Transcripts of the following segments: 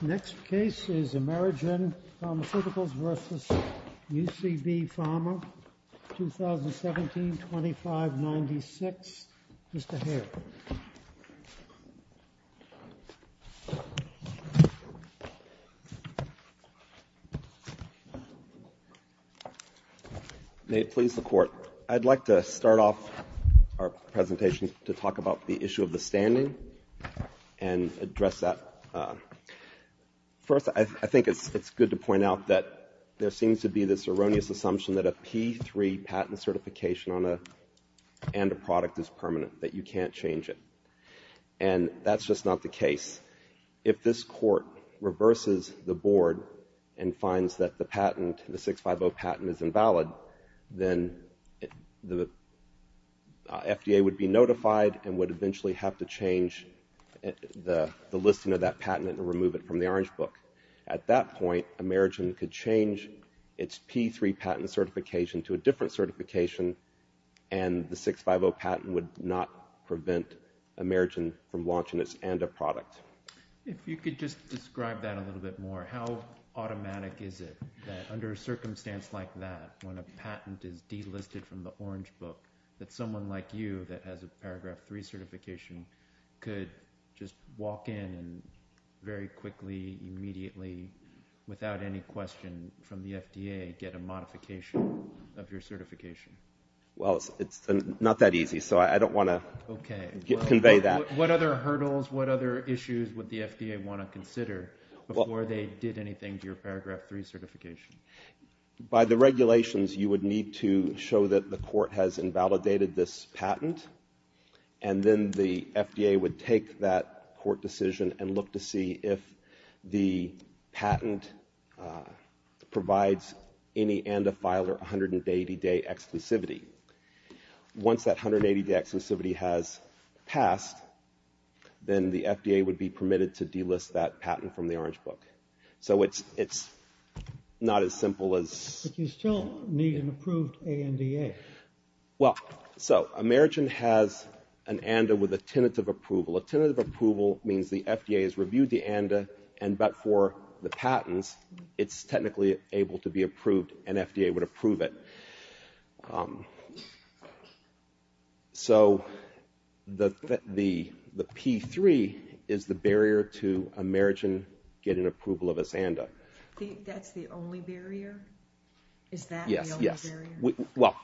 This video was recorded on September 11, 2020 at the UCB Pharmaceuticals v. UCB Pharma GmbH in San Francisco, California. Next case is Amerigen Pharmaceuticals v. UCB Pharma GmbH, 2017, 2596. Mr. Hale. May it please the Court. I'd like to start off our presentation to talk about the issue of the standing and address that. First, I think it's good to point out that there seems to be this erroneous assumption that a P3 patent certification on a product is permanent, that you can't change it. And that's just not the case. If this Court reverses the Board and finds that the patent, the 650 patent, is invalid, then the FDA would be notified and would eventually have to change the listing of that patent and remove it from the Orange Book. At that point, Amerigen could change its P3 patent certification to a different certification, and the 650 patent would not prevent Amerigen from launching this end-of-product. If you could just describe that a little bit more. How automatic is it that under a circumstance like that, when a patent is delisted from the Orange Book, that someone like you that has a Paragraph 3 certification could just walk in and very quickly, immediately, without any question from the FDA, get a modification of your certification? Well, it's not that easy, so I don't want to convey that. Okay. What other hurdles, what other issues would the FDA want to consider before they did anything to your Paragraph 3 certification? By the regulations, you would need to show that the Court has invalidated this patent, and then the FDA would take that Court decision and look to see if the patent provides any and-a-file or 180-day exclusivity. Once that 180-day exclusivity has passed, then the FDA would be permitted to delist that patent from the Orange Book. So it's not as simple as... Well, so Amerigen has an and-a with a tentative approval. A tentative approval means the FDA has reviewed the and-a, and but for the patents, it's technically able to be approved, and FDA would approve it. So the P3 is the barrier to Amerigen getting approval of this and-a. That's the only barrier? Is that the only barrier? Yes, yes. Well,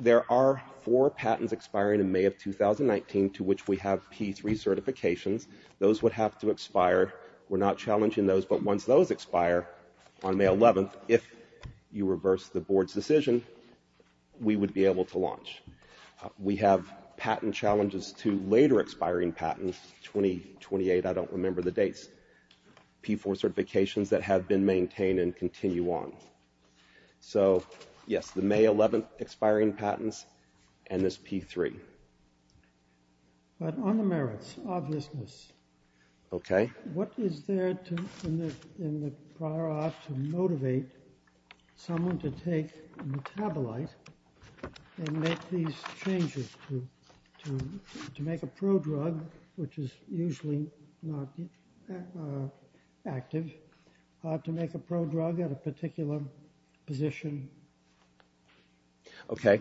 there are four patents expiring in May of 2019 to which we have P3 certifications. Those would have to expire. We're not challenging those, but once those expire on May 11th, if you reverse the Board's decision, we would be able to launch. We have patent challenges to later expiring patents, 2028, I don't remember the dates, P4 certifications that have been maintained and continue on. So yes, the May 11th expiring patents and this P3. But on the merits, obviousness, what is there in the prior art to motivate someone to take a pro-drug, which is usually not active, to make a pro-drug at a particular position? Okay.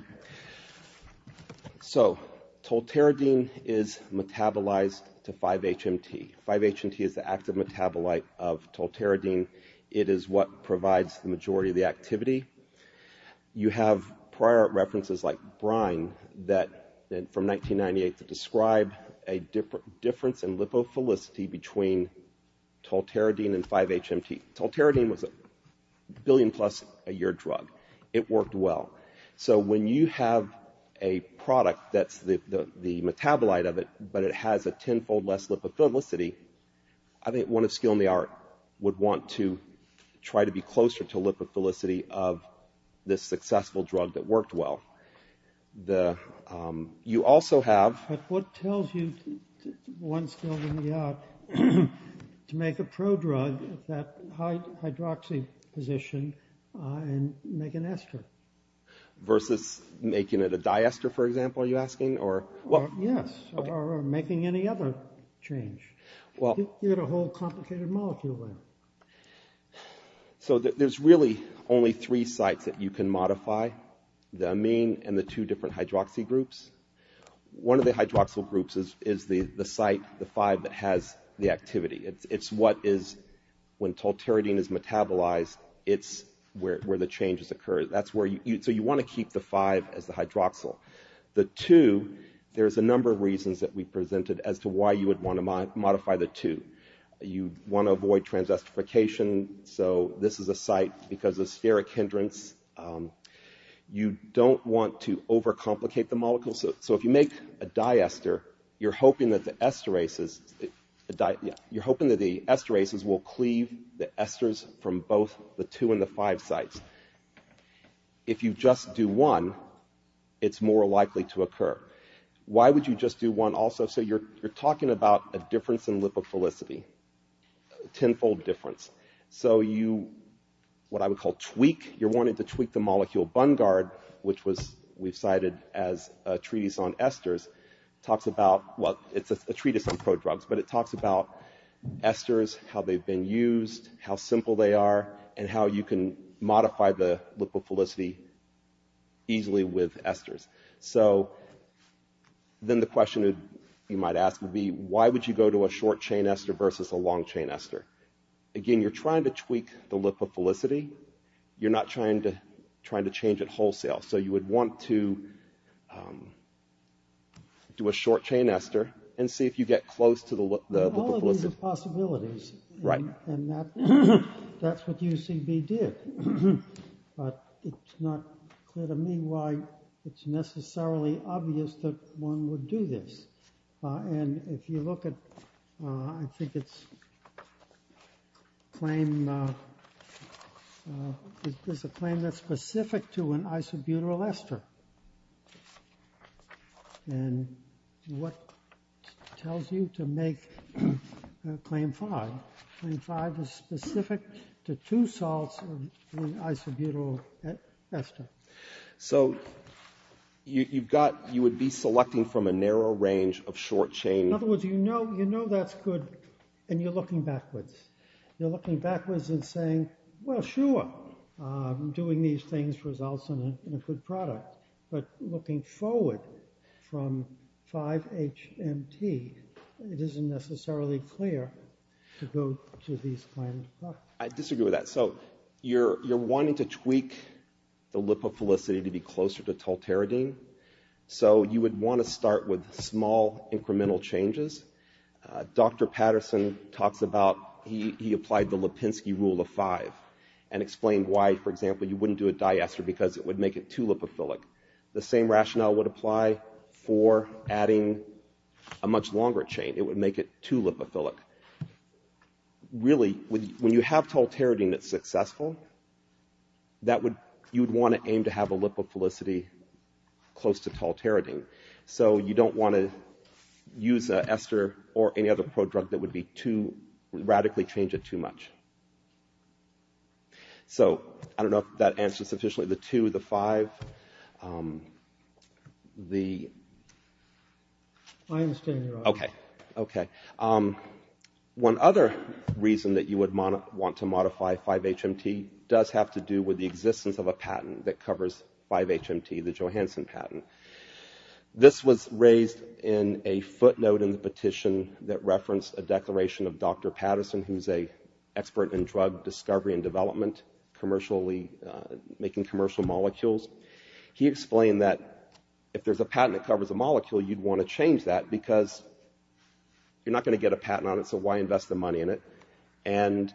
So, tolteridine is metabolized to 5-HMT. 5-HMT is the active metabolite of tolteridine. It is what provides the majority of the activity. You have prior art references like Brine that from 1998 to describe a difference in lipophilicity between tolteridine and 5-HMT. Tolteridine was a billion plus a year drug. It worked well. So when you have a product that's the metabolite of it, but it has a tenfold less lipophilicity, I think one of skill in the art would want to try to be closer to lipophilicity of this successful drug that worked well. But what tells you, one skill in the art, to make a pro-drug at that hydroxy position and make an ester? Versus making it a diester, for example, are you asking? Yes, or making any other change. You get a whole complicated molecule there. So there's really only three sites that you can modify, the amine and the two different hydroxy groups. One of the hydroxyl groups is the site, the 5, that has the activity. It's what is, when tolteridine is metabolized, it's where the changes occur. So you want to keep the 5 as the hydroxyl. The 2, there's a number of reasons that we presented as to why you would want to modify the 2. You want to avoid transesterification, so this is a site because of steric hindrance. You don't want to overcomplicate the molecules. So if you make a diester, you're hoping that the esterases will cleave the esters from both the 2 and the 5 sites. If you just do 1, it's more likely to occur. Why would you just do 1 also? So you're talking about a difference in lipophilicity, a tenfold difference. So you, what I would call tweak, you're wanting to tweak the molecule. Bungard, which was, we've cited as a treatise on esters, talks about, well, it's a treatise on prodrugs, but it talks about esters, how they've been used, how simple they are, and how you can modify the lipophilicity easily with esters. So then the question you might ask would be, why would you go to a short-chain ester versus a long-chain ester? Again, you're trying to tweak the lipophilicity. You're not trying to change it wholesale. So you would want to do a short-chain ester and see if you get close to the lipophilicity. All of these are possibilities, and that's what UCB did. But it's not clear to me why it's necessarily obvious that one would do this. And if you look at, I think it's a claim that's specific to an isobutyl ester. And what tells you to make claim 5? Claim 5 is specific to two salts in an isobutyl ester. So you would be selecting from a narrow range of short-chain... In other words, you know that's good, and you're looking backwards. You're looking backwards and saying, well, sure, doing these things results in a good product. But looking forward from 5-HMT, it isn't necessarily clear to go to these kinds of products. I disagree with that. So you're wanting to tweak the lipophilicity to be closer to tolteridine. So you would want to start with small incremental changes. Dr. Patterson talks about, he applied the Lipinski rule of 5 and explained why, for example, you wouldn't do a diester because it would make it too lipophilic. The same rationale would apply for adding a much longer chain. It would make it too lipophilic. Really, when you have tolteridine that's successful, you would want to aim to have a lipophilicity close to tolteridine. So you don't want to use an ester or any other prodrug that would radically change it too much. So I don't know if that answers sufficiently the 2, the 5. Okay. One other reason that you would want to modify 5-HMT does have to do with the existence of a patent that covers 5-HMT, the Johansson patent. This was raised in a footnote in the petition that referenced a declaration of Dr. Patterson, who's an expert in drug discovery and development, making commercial molecules. He explained that if there's a patent that you want to change that because you're not going to get a patent on it, so why invest the money in it? And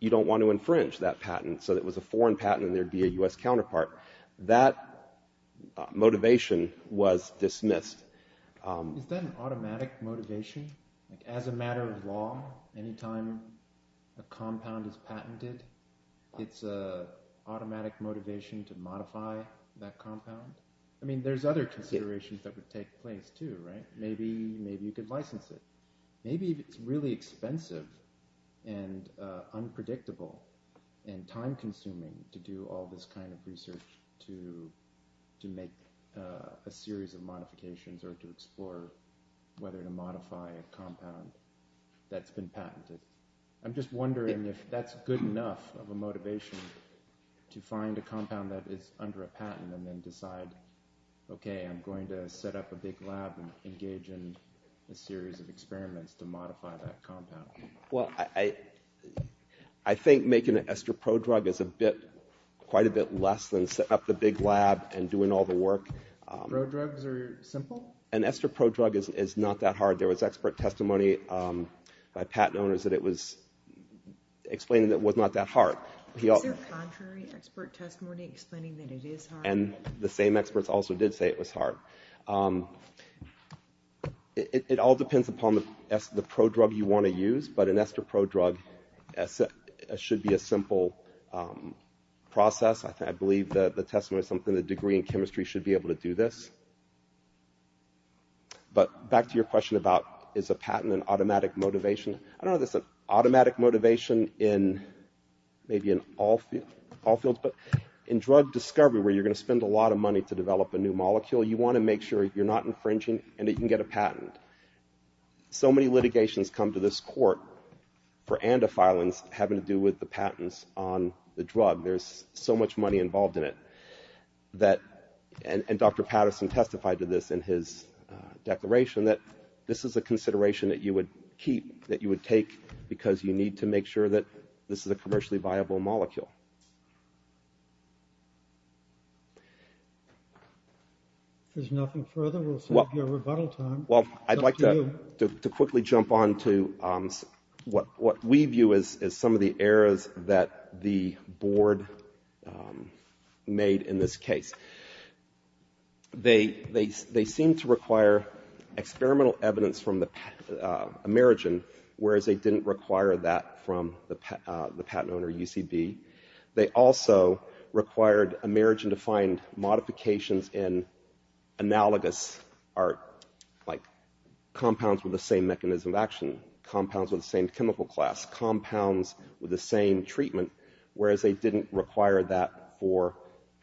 you don't want to infringe that patent so that it was a foreign patent and there'd be a U.S. counterpart. That motivation was dismissed. Is that an automatic motivation? As a matter of law, any time a compound is patented, it's an automatic motivation to modify that compound? I mean, there's other considerations that would take place too, right? Maybe you could license it. Maybe it's really expensive and unpredictable and time-consuming to do all this kind of research to make a series of modifications or to explore whether to modify a compound that's been patented. I'm just wondering if that's good enough of a motivation to find a compound that is under a patent and then decide, okay, I'm going to set up a big lab and engage in a series of experiments to modify that compound. Well, I think making an EstroPro drug is quite a bit less than setting up the big lab and doing all the work. EstroDrugs are simple? An EstroPro drug is not that hard. There was expert testimony by patent owners that it was explained that it was not that hard. Is there contrary expert testimony explaining that it is hard? And the same experts also did say it was hard. It all depends upon the pro-drug you want to use, but an EstroPro drug should be a simple process. I believe the testimony is something the degree in chemistry should be able to do this. But back to your question about is a patent an automatic motivation, I don't know if that's an automatic motivation in maybe in all fields, but in drug discovery where you're going to spend a lot of money to develop a new molecule, you want to make sure you're not infringing and that you can get a patent. So many litigations come to this court for andophilins having to do with the patents on the drug. There's so much money involved in it that, and Dr. Patterson testified to this in his declaration, that this is a consideration that you would keep, that you would take because you need to make sure that this is a commercially viable molecule. If there's nothing further, we'll save you a rebuttal time. Well, I'd like to quickly jump on to what we view as some of the errors that the board made in this case. They seem to require experimental evidence from the Amerigen, whereas they didn't require that from the patent owner, UCB. They also required Amerigen to find modifications in analogous art, like compounds with the same mechanism of action, compounds with the same chemical class, compounds with the same treatment, whereas they didn't require that for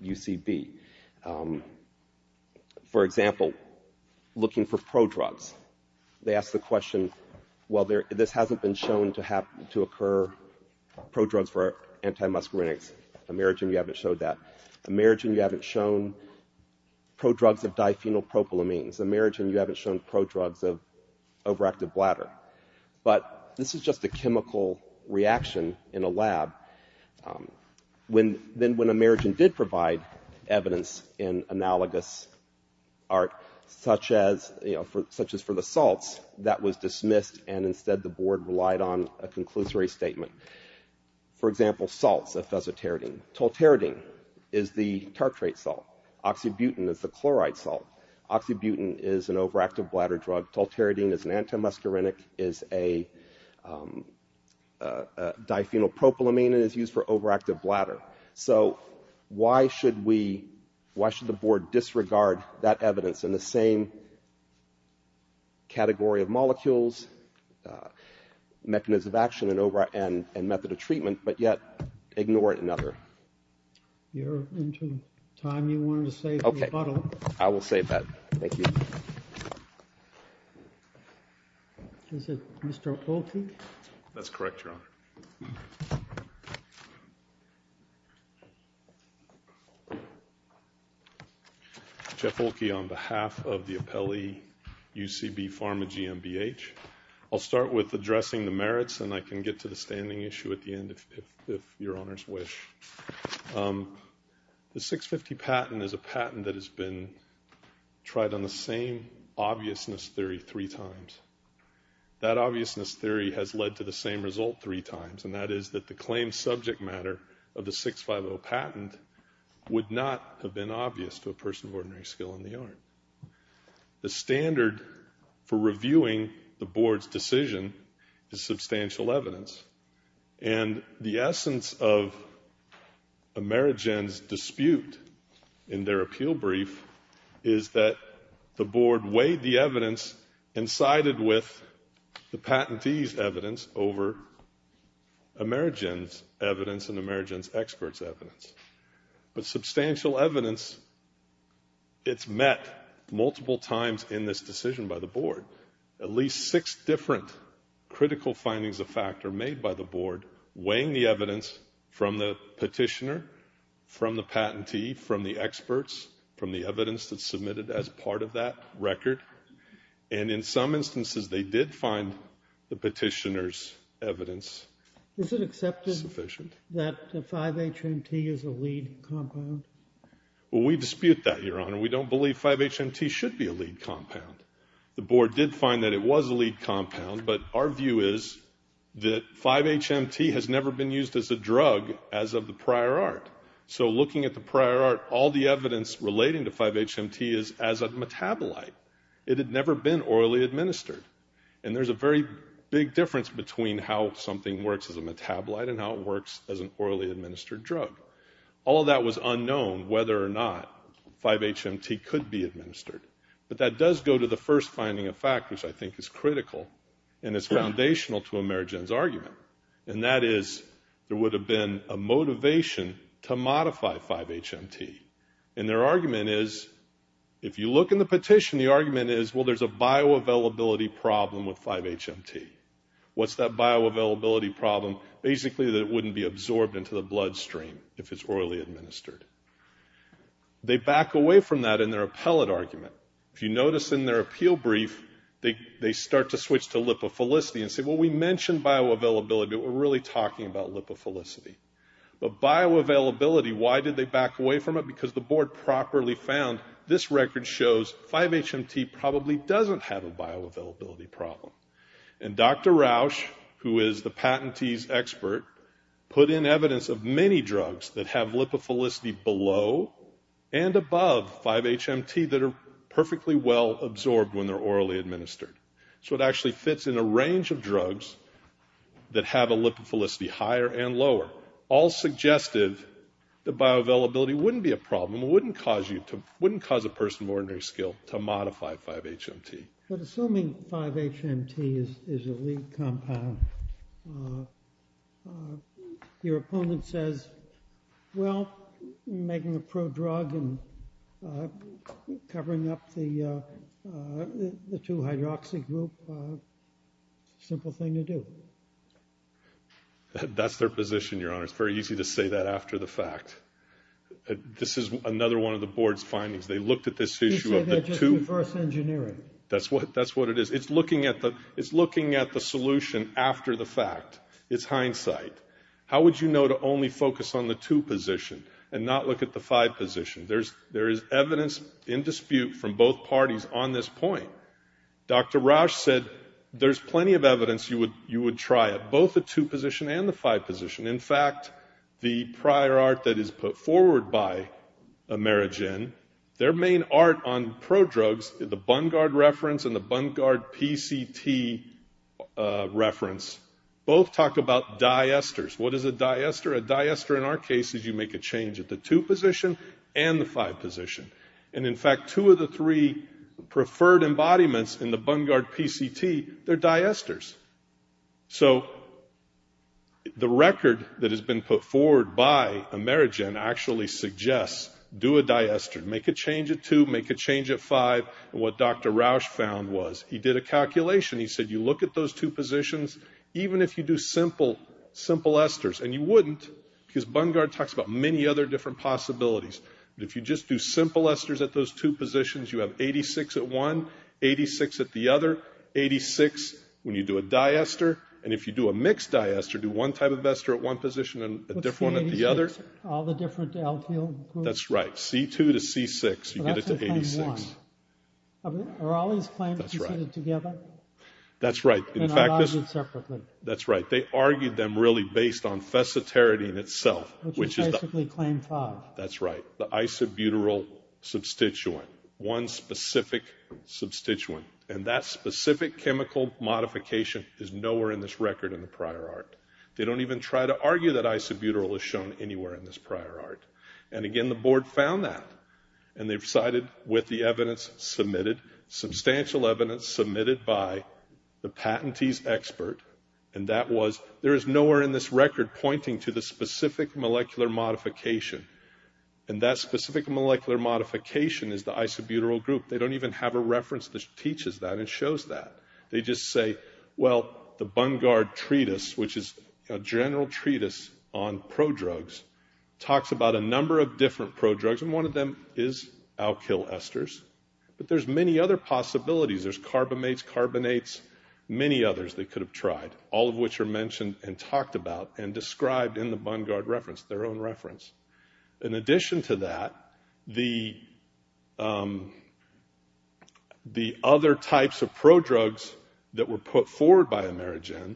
UCB. For example, looking for prodrugs. They asked the question, well, this hasn't been shown to occur, prodrugs for anti-muscarinics. Amerigen, you haven't shown that. Amerigen, you haven't shown prodrugs of diphenylpropylamines. Amerigen, you haven't shown prodrugs of overactive bladder. But this is just a chemical reaction in a lab. Then when Amerigen did provide evidence in analogous art, such as for the salts, that was dismissed, and instead the board relied on a conclusory statement. For example, salts of fesoteridine. Tolteridine is the tartrate salt. Oxybutyn is the chloride is a diphenylpropylamine and is used for overactive bladder. So why should we, why should the board disregard that evidence in the same category of molecules, mechanism of action, and method of treatment, but yet ignore it in other? You're into time. You wanted to save the rebuttal. I will save that. Thank you. Is it Mr. Olke? That's correct, Your Honor. Jeff Olke on behalf of the appellee UCB Pharma GmbH. I'll start with addressing the merits, and I can get to the standing issue at the end if Your Honor's wish. The 650 patent is a patent that has been tried on the same obviousness theory three times. That obviousness theory has led to the same result three times, and that is that the claim subject matter of the 650 patent would not have been obvious to a person of ordinary skill in the art. The standard for reviewing the board's decision is substantial evidence. And the essence of Amerigen's dispute in their appeal brief is that the board weighed the evidence and sided with the patentee's evidence over Amerigen's evidence and Amerigen's expert's evidence. But substantial evidence, it's met multiple times in this decision by the board. At least six different critical findings of fact are made by the board weighing the evidence from the petitioner, from the patentee, from the experts, from the evidence that's submitted as part of that record. And in some instances they did find the petitioner's evidence sufficient. Is it accepted that 5-HMT is a lead compound? We dispute that, Your Honor. We don't believe 5-HMT should be a lead compound. The board did find that it was a lead compound, but our view is that 5-HMT has never been used as a drug as of the prior art. So looking at the prior art, all the evidence relating to 5-HMT is as a metabolite. It had never been orally administered. And there's a very big difference between how something works as a metabolite and how it works as an orally administered drug. All of that was unknown, whether or not 5-HMT could be administered. But that does go to the first finding of fact, which I think is critical and is foundational to Amerigen's argument. And that is there would have been a motivation to modify 5-HMT. And their argument is, if you look in the petition, the argument is, well, there's a bioavailability problem with 5-HMT. What's that bioavailability problem? Basically that it wouldn't be absorbed into the bloodstream if it's orally administered. They back away from that in their appellate argument. If you notice in their appeal brief, they start to switch to lipophilicity and say, well, we mentioned bioavailability, but we're really talking about lipophilicity. But bioavailability, why did they back away from it? Because the board properly found this record shows 5-HMT probably doesn't have a bioavailability problem. And Dr. Rausch, who is the patentee's expert, put in evidence of many drugs that have lipophilicity below and above 5-HMT that are perfectly well absorbed when they're orally administered. So it actually fits in a range of drugs that have a lipophilicity higher and lower, all suggestive that bioavailability wouldn't be a problem, wouldn't cause a person of ordinary skill to modify 5-HMT. But assuming 5-HMT is a lead compound, your opponent says, well, making a pro drug and covering up the 2-hydroxy group, simple thing to do. That's their position, Your Honor. It's very easy to say that after the fact. This is another one of the board's findings. They looked at this issue of the 2... That's what it is. It's looking at the solution after the fact. It's hindsight. How would you know to only focus on the 2 position and not look at the 5 position? There is evidence in dispute from both parties on this point. Dr. Rausch said there's plenty of evidence you would try it, both the 2 position and the 5 position. In fact, the prior art that is put forward by Amerigen, their main art on pro drugs, the Bungard reference and the Bungard PCT reference, both talk about diesters. What is a diester? A diester in our case is you make a change at the 2 position and the 5 position. And in fact, two of the three preferred embodiments in the Bungard PCT, they're diesters. So the record that has been put forward by Amerigen actually suggests do a C5 and what Dr. Rausch found was he did a calculation. He said you look at those 2 positions, even if you do simple esters, and you wouldn't because Bungard talks about many other different possibilities. If you just do simple esters at those 2 positions, you have 86 at one, 86 at the other, 86 when you do a diester. And if you do a mixed diester, do one type of ester at one position and a different one at the other. All the different alkyl groups. That's right. C2 to C6. You get it to 86. Are all these claims seated together? That's right. In fact, that's right. They argued them really based on fessatarity in itself. Which is basically claim 5. That's right. The isobutyl substituent. One specific substituent. And that specific chemical modification is nowhere in this record in the prior art. They don't even try to argue that isobutyl is shown anywhere in this prior art. And again, the board found that. And they decided with the evidence submitted, substantial evidence submitted by the patentee's expert. And that was, there is nowhere in this record pointing to the specific molecular modification. And that specific molecular modification is the isobutyl group. They don't even have a reference that teaches that and shows that. They just say, well, the Bungard Treatise, which is a general treatise on prodrugs, talks about a number of different prodrugs. And one of them is alkyl esters. But there's many other possibilities. There's carbamates, carbonates, many others they could have tried. All of which are mentioned and talked about and described in the Bungard reference, their own reference. In addition to that, the other types of prodrugs that were put forward by Amerigen,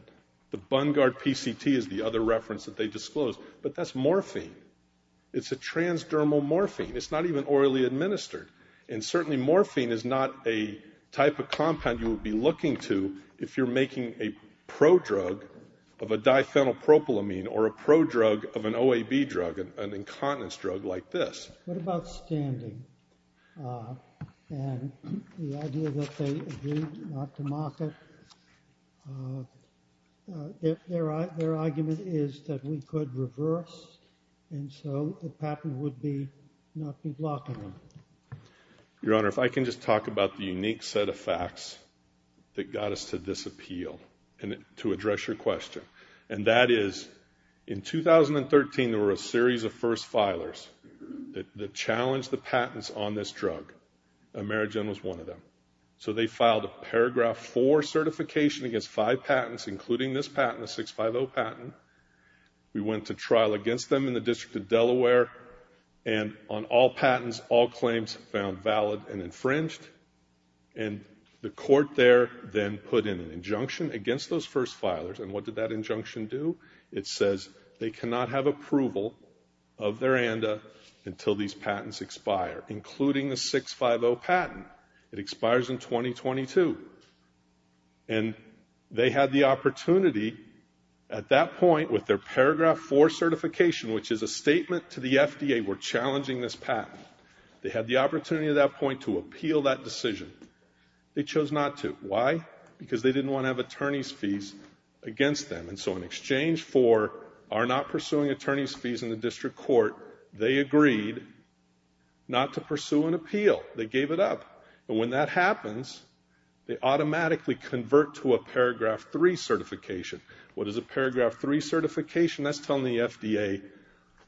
the Bungard PCT is the other reference that they disclosed. But that's morphine. It's a transdermal morphine. It's not even orally administered. And certainly morphine is not a type of compound you would be looking to if you're making a prodrug of a diphenylpropylamine or a prodrug of an OAB drug, an incontinence drug like this. What about standing? And the idea that they agreed not to market. Their argument is that we could reverse, and so the patent would not be blocking them. Your Honor, if I can just talk about the unique set of facts that got us to this appeal to address your question. And that is, in 2013 there were a series of first filers that challenged the patents on this drug. Amerigen was one of them. So they filed a paragraph four certification against five patents, including this patent, the 650 patent. We went to trial against them in the District of Delaware. And on all patents, all claims found valid and infringed. And the court there then put in an injunction against those first filers. And what did that injunction do? It says they cannot have approval of their ANDA until these patents expire, including the 650 patent. It expires in 2022. And they had the opportunity at that point with their paragraph four certification, which is a statement to the FDA, we're challenging this patent, they had the opportunity at that point to appeal that decision. They chose not to. Why? Because they didn't want to have attorney's fees against them. And so in exchange for our not pursuing attorney's fees in the district court, they agreed not to pursue an appeal. They gave it up. And when that happens, they automatically convert to a paragraph three certification. What is a paragraph three certification? That's telling the FDA,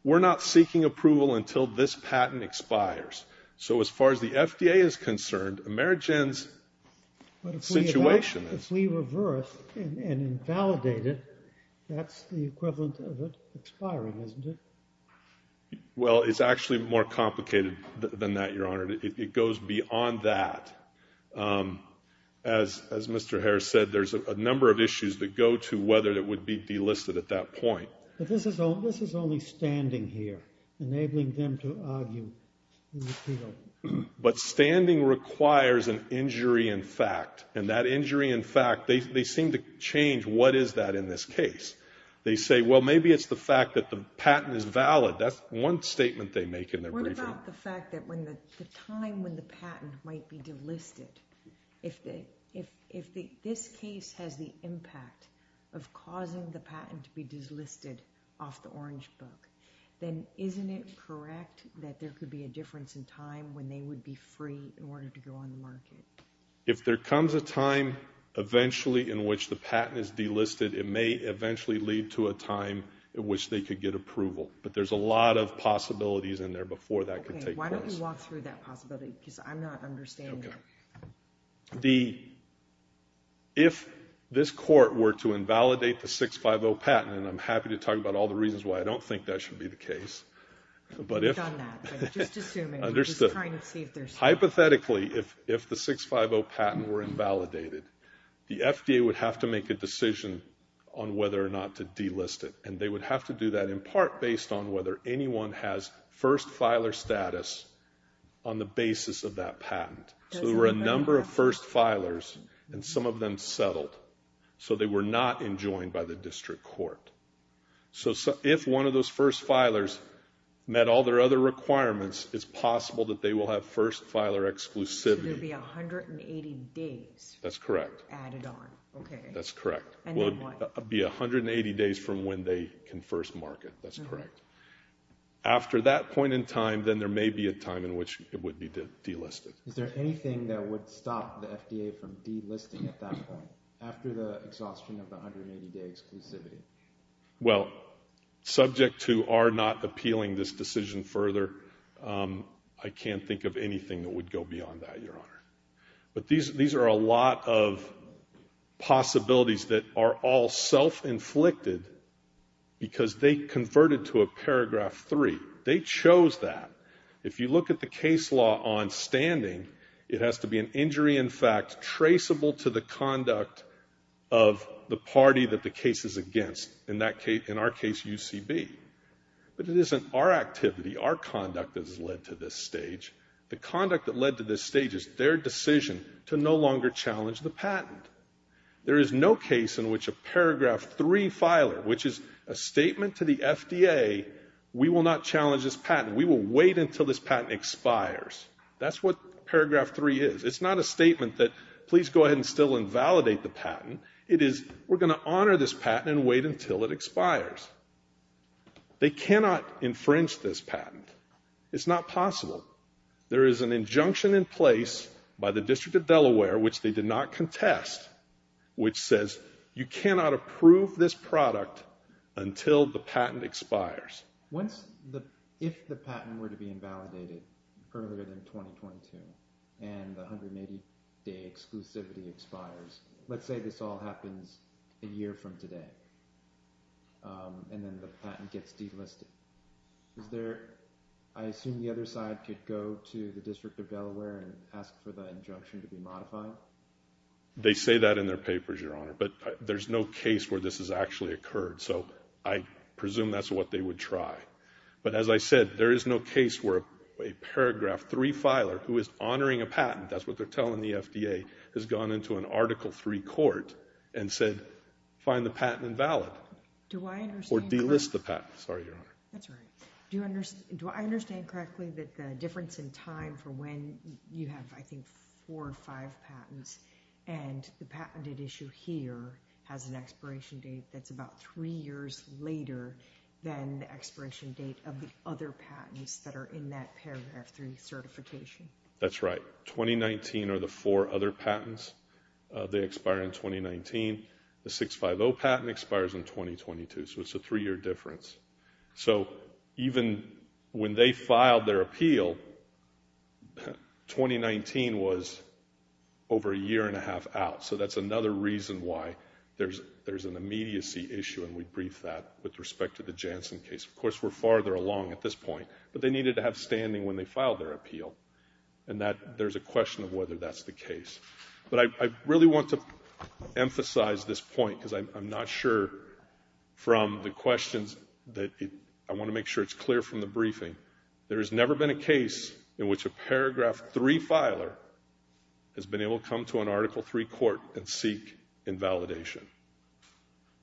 we're not seeking approval until this patent expires. So as far as the FDA is concerned, Amerigen's situation is... But if we reverse and invalidate it, that's the equivalent of it expiring, isn't it? Well, it's actually more complicated than that, Your Honor. It goes beyond that. As Mr. Harris said, there's a number of issues that go to whether it would be delisted at that point. But this is only standing here, enabling them to argue the appeal. But standing requires an injury in fact. And that injury in fact, they seem to change what is that in this case. They say, well, maybe it's the fact that the patent is valid. That's one statement they make in their briefing. If it's not the fact that the time when the patent might be delisted, if this case has the impact of causing the patent to be delisted off the orange book, then isn't it correct that there could be a difference in time when they would be free in order to go on the market? If there comes a time eventually in which the patent is delisted, it may eventually lead to a time in which they could get approval. But there's a lot of possibilities in there before that could take place. Okay, why don't you walk through that possibility? Because I'm not understanding it. If this court were to invalidate the 650 patent, and I'm happy to talk about all the reasons why I don't think that should be the case. We've done that. Just assuming. Understood. Just trying to see if there's... Hypothetically, if the 650 patent were invalidated, the FDA would have to make a decision on whether or not to delist it. And they would have to do that in part based on whether anyone has first filer status on the basis of that patent. So there were a number of first filers, and some of them settled. So they were not enjoined by the district court. So if one of those first filers met all their other requirements, it's possible that they will have first filer exclusivity. So there would be 180 days... That's correct. ...added on, okay. That's correct. And then what? It would be 180 days from when they can first mark it. That's correct. After that point in time, then there may be a time in which it would be delisted. Is there anything that would stop the FDA from delisting at that point, after the exhaustion of the 180-day exclusivity? Well, subject to our not appealing this decision further, I can't think of anything that would go beyond that, Your Honor. But these are a lot of possibilities that are all self-inflicted because they converted to a paragraph 3. They chose that. If you look at the case law on standing, it has to be an injury, in fact, traceable to the conduct of the party that the case is against. In our case, UCB. But it isn't our activity, our conduct that has led to this stage. The conduct that led to this stage is their decision to no longer challenge the patent. There is no case in which a paragraph 3 filer, which is a statement to the FDA, we will not challenge this patent. We will wait until this patent expires. That's what paragraph 3 is. It's not a statement that, please go ahead and still invalidate the patent. It is, we're going to honor this patent and wait until it expires. They cannot infringe this patent. It's not possible. There is an injunction in place by the District of Delaware, which they did not contest, which says you cannot approve this product until the patent expires. If the patent were to be invalidated further than 2022 and the 180-day exclusivity expires, let's say this all happens a year from today, and then the patent gets delisted, I assume the other side could go to the District of Delaware and ask for the injunction to be modified? They say that in their papers, Your Honor. But there's no case where this has actually occurred. So I presume that's what they would try. But as I said, there is no case where a paragraph 3 filer, who is honoring a patent, that's what they're telling the FDA, has gone into an Article 3 court and said, find the patent invalid. Or delist the patent. Sorry, Your Honor. Do I understand correctly that the difference in time for when you have, I think, four or five patents, and the patented issue here has an expiration date that's about three years later than the expiration date of the other patents that are in that paragraph 3 certification? That's right. 2019 are the four other patents. They expire in 2019. The 650 patent expires in 2022. So it's a three-year difference. So even when they filed their appeal, 2019 was over a year and a half out. So that's another reason why there's an immediacy issue, and we briefed that with respect to the Janssen case. Of course, we're farther along at this point. But they needed to have standing when they filed their appeal. And there's a question of whether that's the case. But I really want to emphasize this point, because I'm not sure from the questions, that I want to make sure it's clear from the briefing. There has never been a case in which a paragraph 3 filer has been able to come to an Article 3 court and seek invalidation.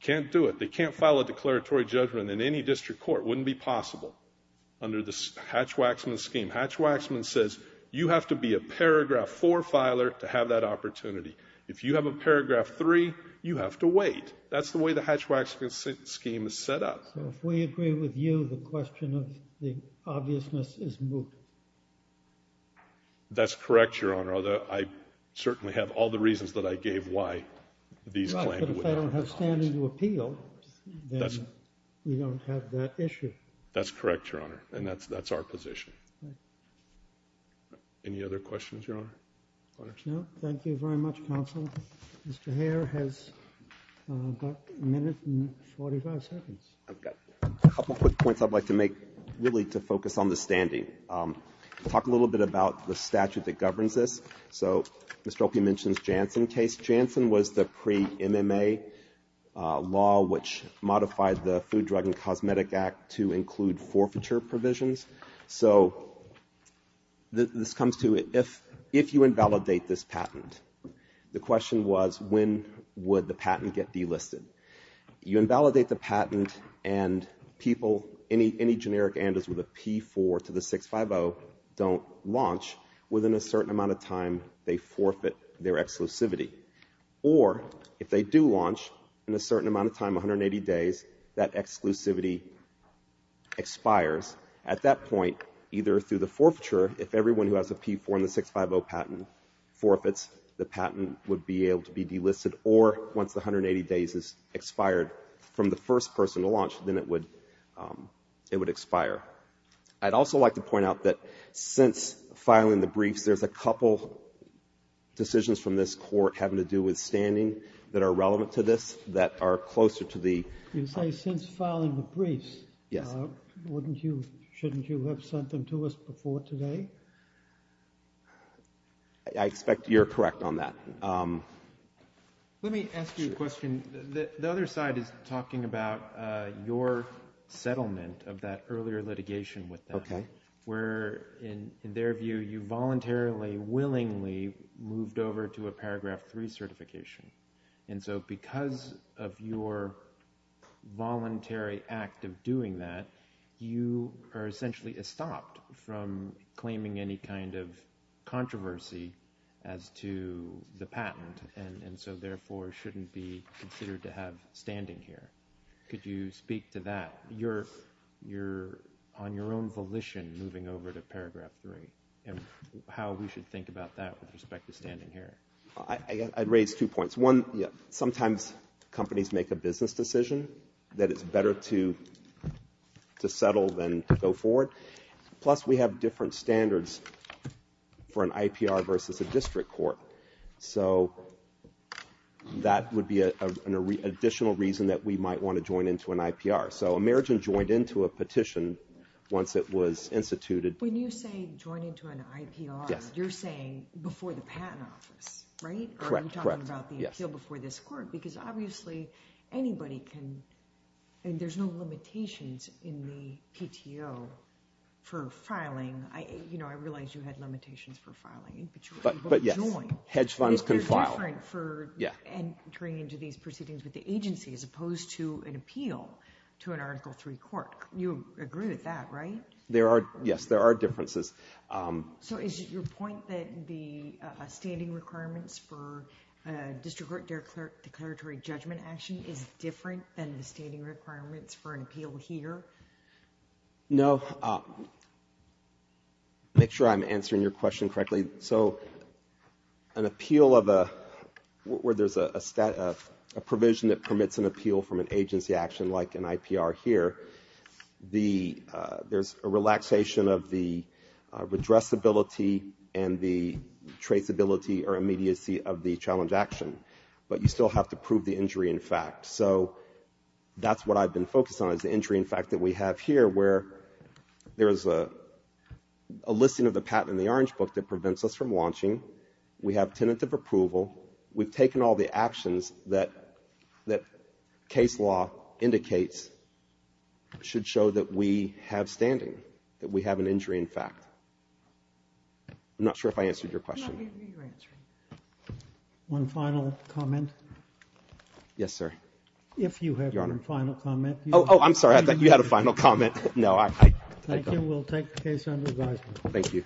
Can't do it. They can't file a declaratory judgment in any district court. Wouldn't be possible under the Hatch-Waxman scheme. Hatch-Waxman says you have to be a paragraph 4 filer to have that opportunity. If you have a paragraph 3, you have to wait. That's the way the Hatch-Waxman scheme is set up. So if we agree with you, the question of the obviousness is moot. That's correct, Your Honor. Although, I certainly have all the reasons that I gave why these claims would not be caused. But if they don't have standing to appeal, then we don't have that issue. That's correct, Your Honor. And that's our position. Any other questions, Your Honor? No. Thank you very much, counsel. Mr. Hare has got a minute and 45 seconds. I've got a couple quick points I'd like to make, really, to focus on the standing. Talk a little bit about the statute that governs this. So Mr. Opie mentions Janssen case. Janssen was the pre-MMA law which modified the Food, Drug, and Cosmetic Act to include forfeiture provisions. So this comes to, if you invalidate this patent, the question was, when would the patent get delisted? You invalidate the patent, and people, any generic anders with a P4 to the 650 don't launch within a certain amount of time they forfeit their exclusivity. Or, if they do launch in a certain amount of time, 180 days, that exclusivity expires. At that point, either through the forfeiture, if everyone who has a P4 and a 650 patent forfeits, the patent would be able to be delisted. Or, once the 180 days has expired from the first person to launch, then it would expire. I'd also like to point out that since filing the briefs, there's a couple decisions from this Court having to do with standing that are relevant to this, that are closer to the... Shouldn't you have sent them to us before today? I expect you're correct on that. Let me ask you a question. The other side is talking about your settlement of that earlier litigation with them, where, in their view, you voluntarily, willingly moved over to a Paragraph 3 certification. And so because of your voluntary act of doing that, you are essentially estopped from claiming any kind of controversy as to the patent, and so therefore shouldn't be considered to have standing here. Could you speak to that? You're on your own volition moving over to Paragraph 3, and how we should think about that with respect to standing here. I'd raise two points. One, sometimes companies make a business decision that it's better to settle than to go forward. Plus, we have different standards for an IPR versus a district court. So that would be an additional reason that we might want to join into an IPR. So Amerigen joined into a petition once it was instituted. When you say join into an IPR, you're saying before the Patent Office, right? Correct, correct. Or are you talking about the appeal before this Court? Because obviously anybody can, and there's no limitations in the PTO for filing. I realize you had limitations for filing, but you were able to join. But yes, hedge funds can file. But it's different for entering into these proceedings with the agency as opposed to an appeal to an Article 3 Court. You agree with that, right? Yes, there are differences. So is it your point that the standing requirements for district court declaratory judgment action is different than the standing requirements for an appeal here? No. Make sure I'm answering your question correctly. So an appeal of a... where there's a provision that permits an appeal from an agency action like an IPR here, there's a relaxation of the redressability and the traceability or immediacy of the challenge action. But you still have to prove the injury in fact. So that's what I've been focused on, is the injury in fact that we have here, where there is a listing of the patent in the Orange Book that prevents us from launching. We have tentative approval. We've taken all the actions that case law indicates should show that we have standing, that we have an injury in fact. I'm not sure if I answered your question. No, you're answering. One final comment. Yes, sir. If you have one final comment. Oh, I'm sorry, I thought you had a final comment. No, I... Thank you. We'll take the case under advisement. Thank you.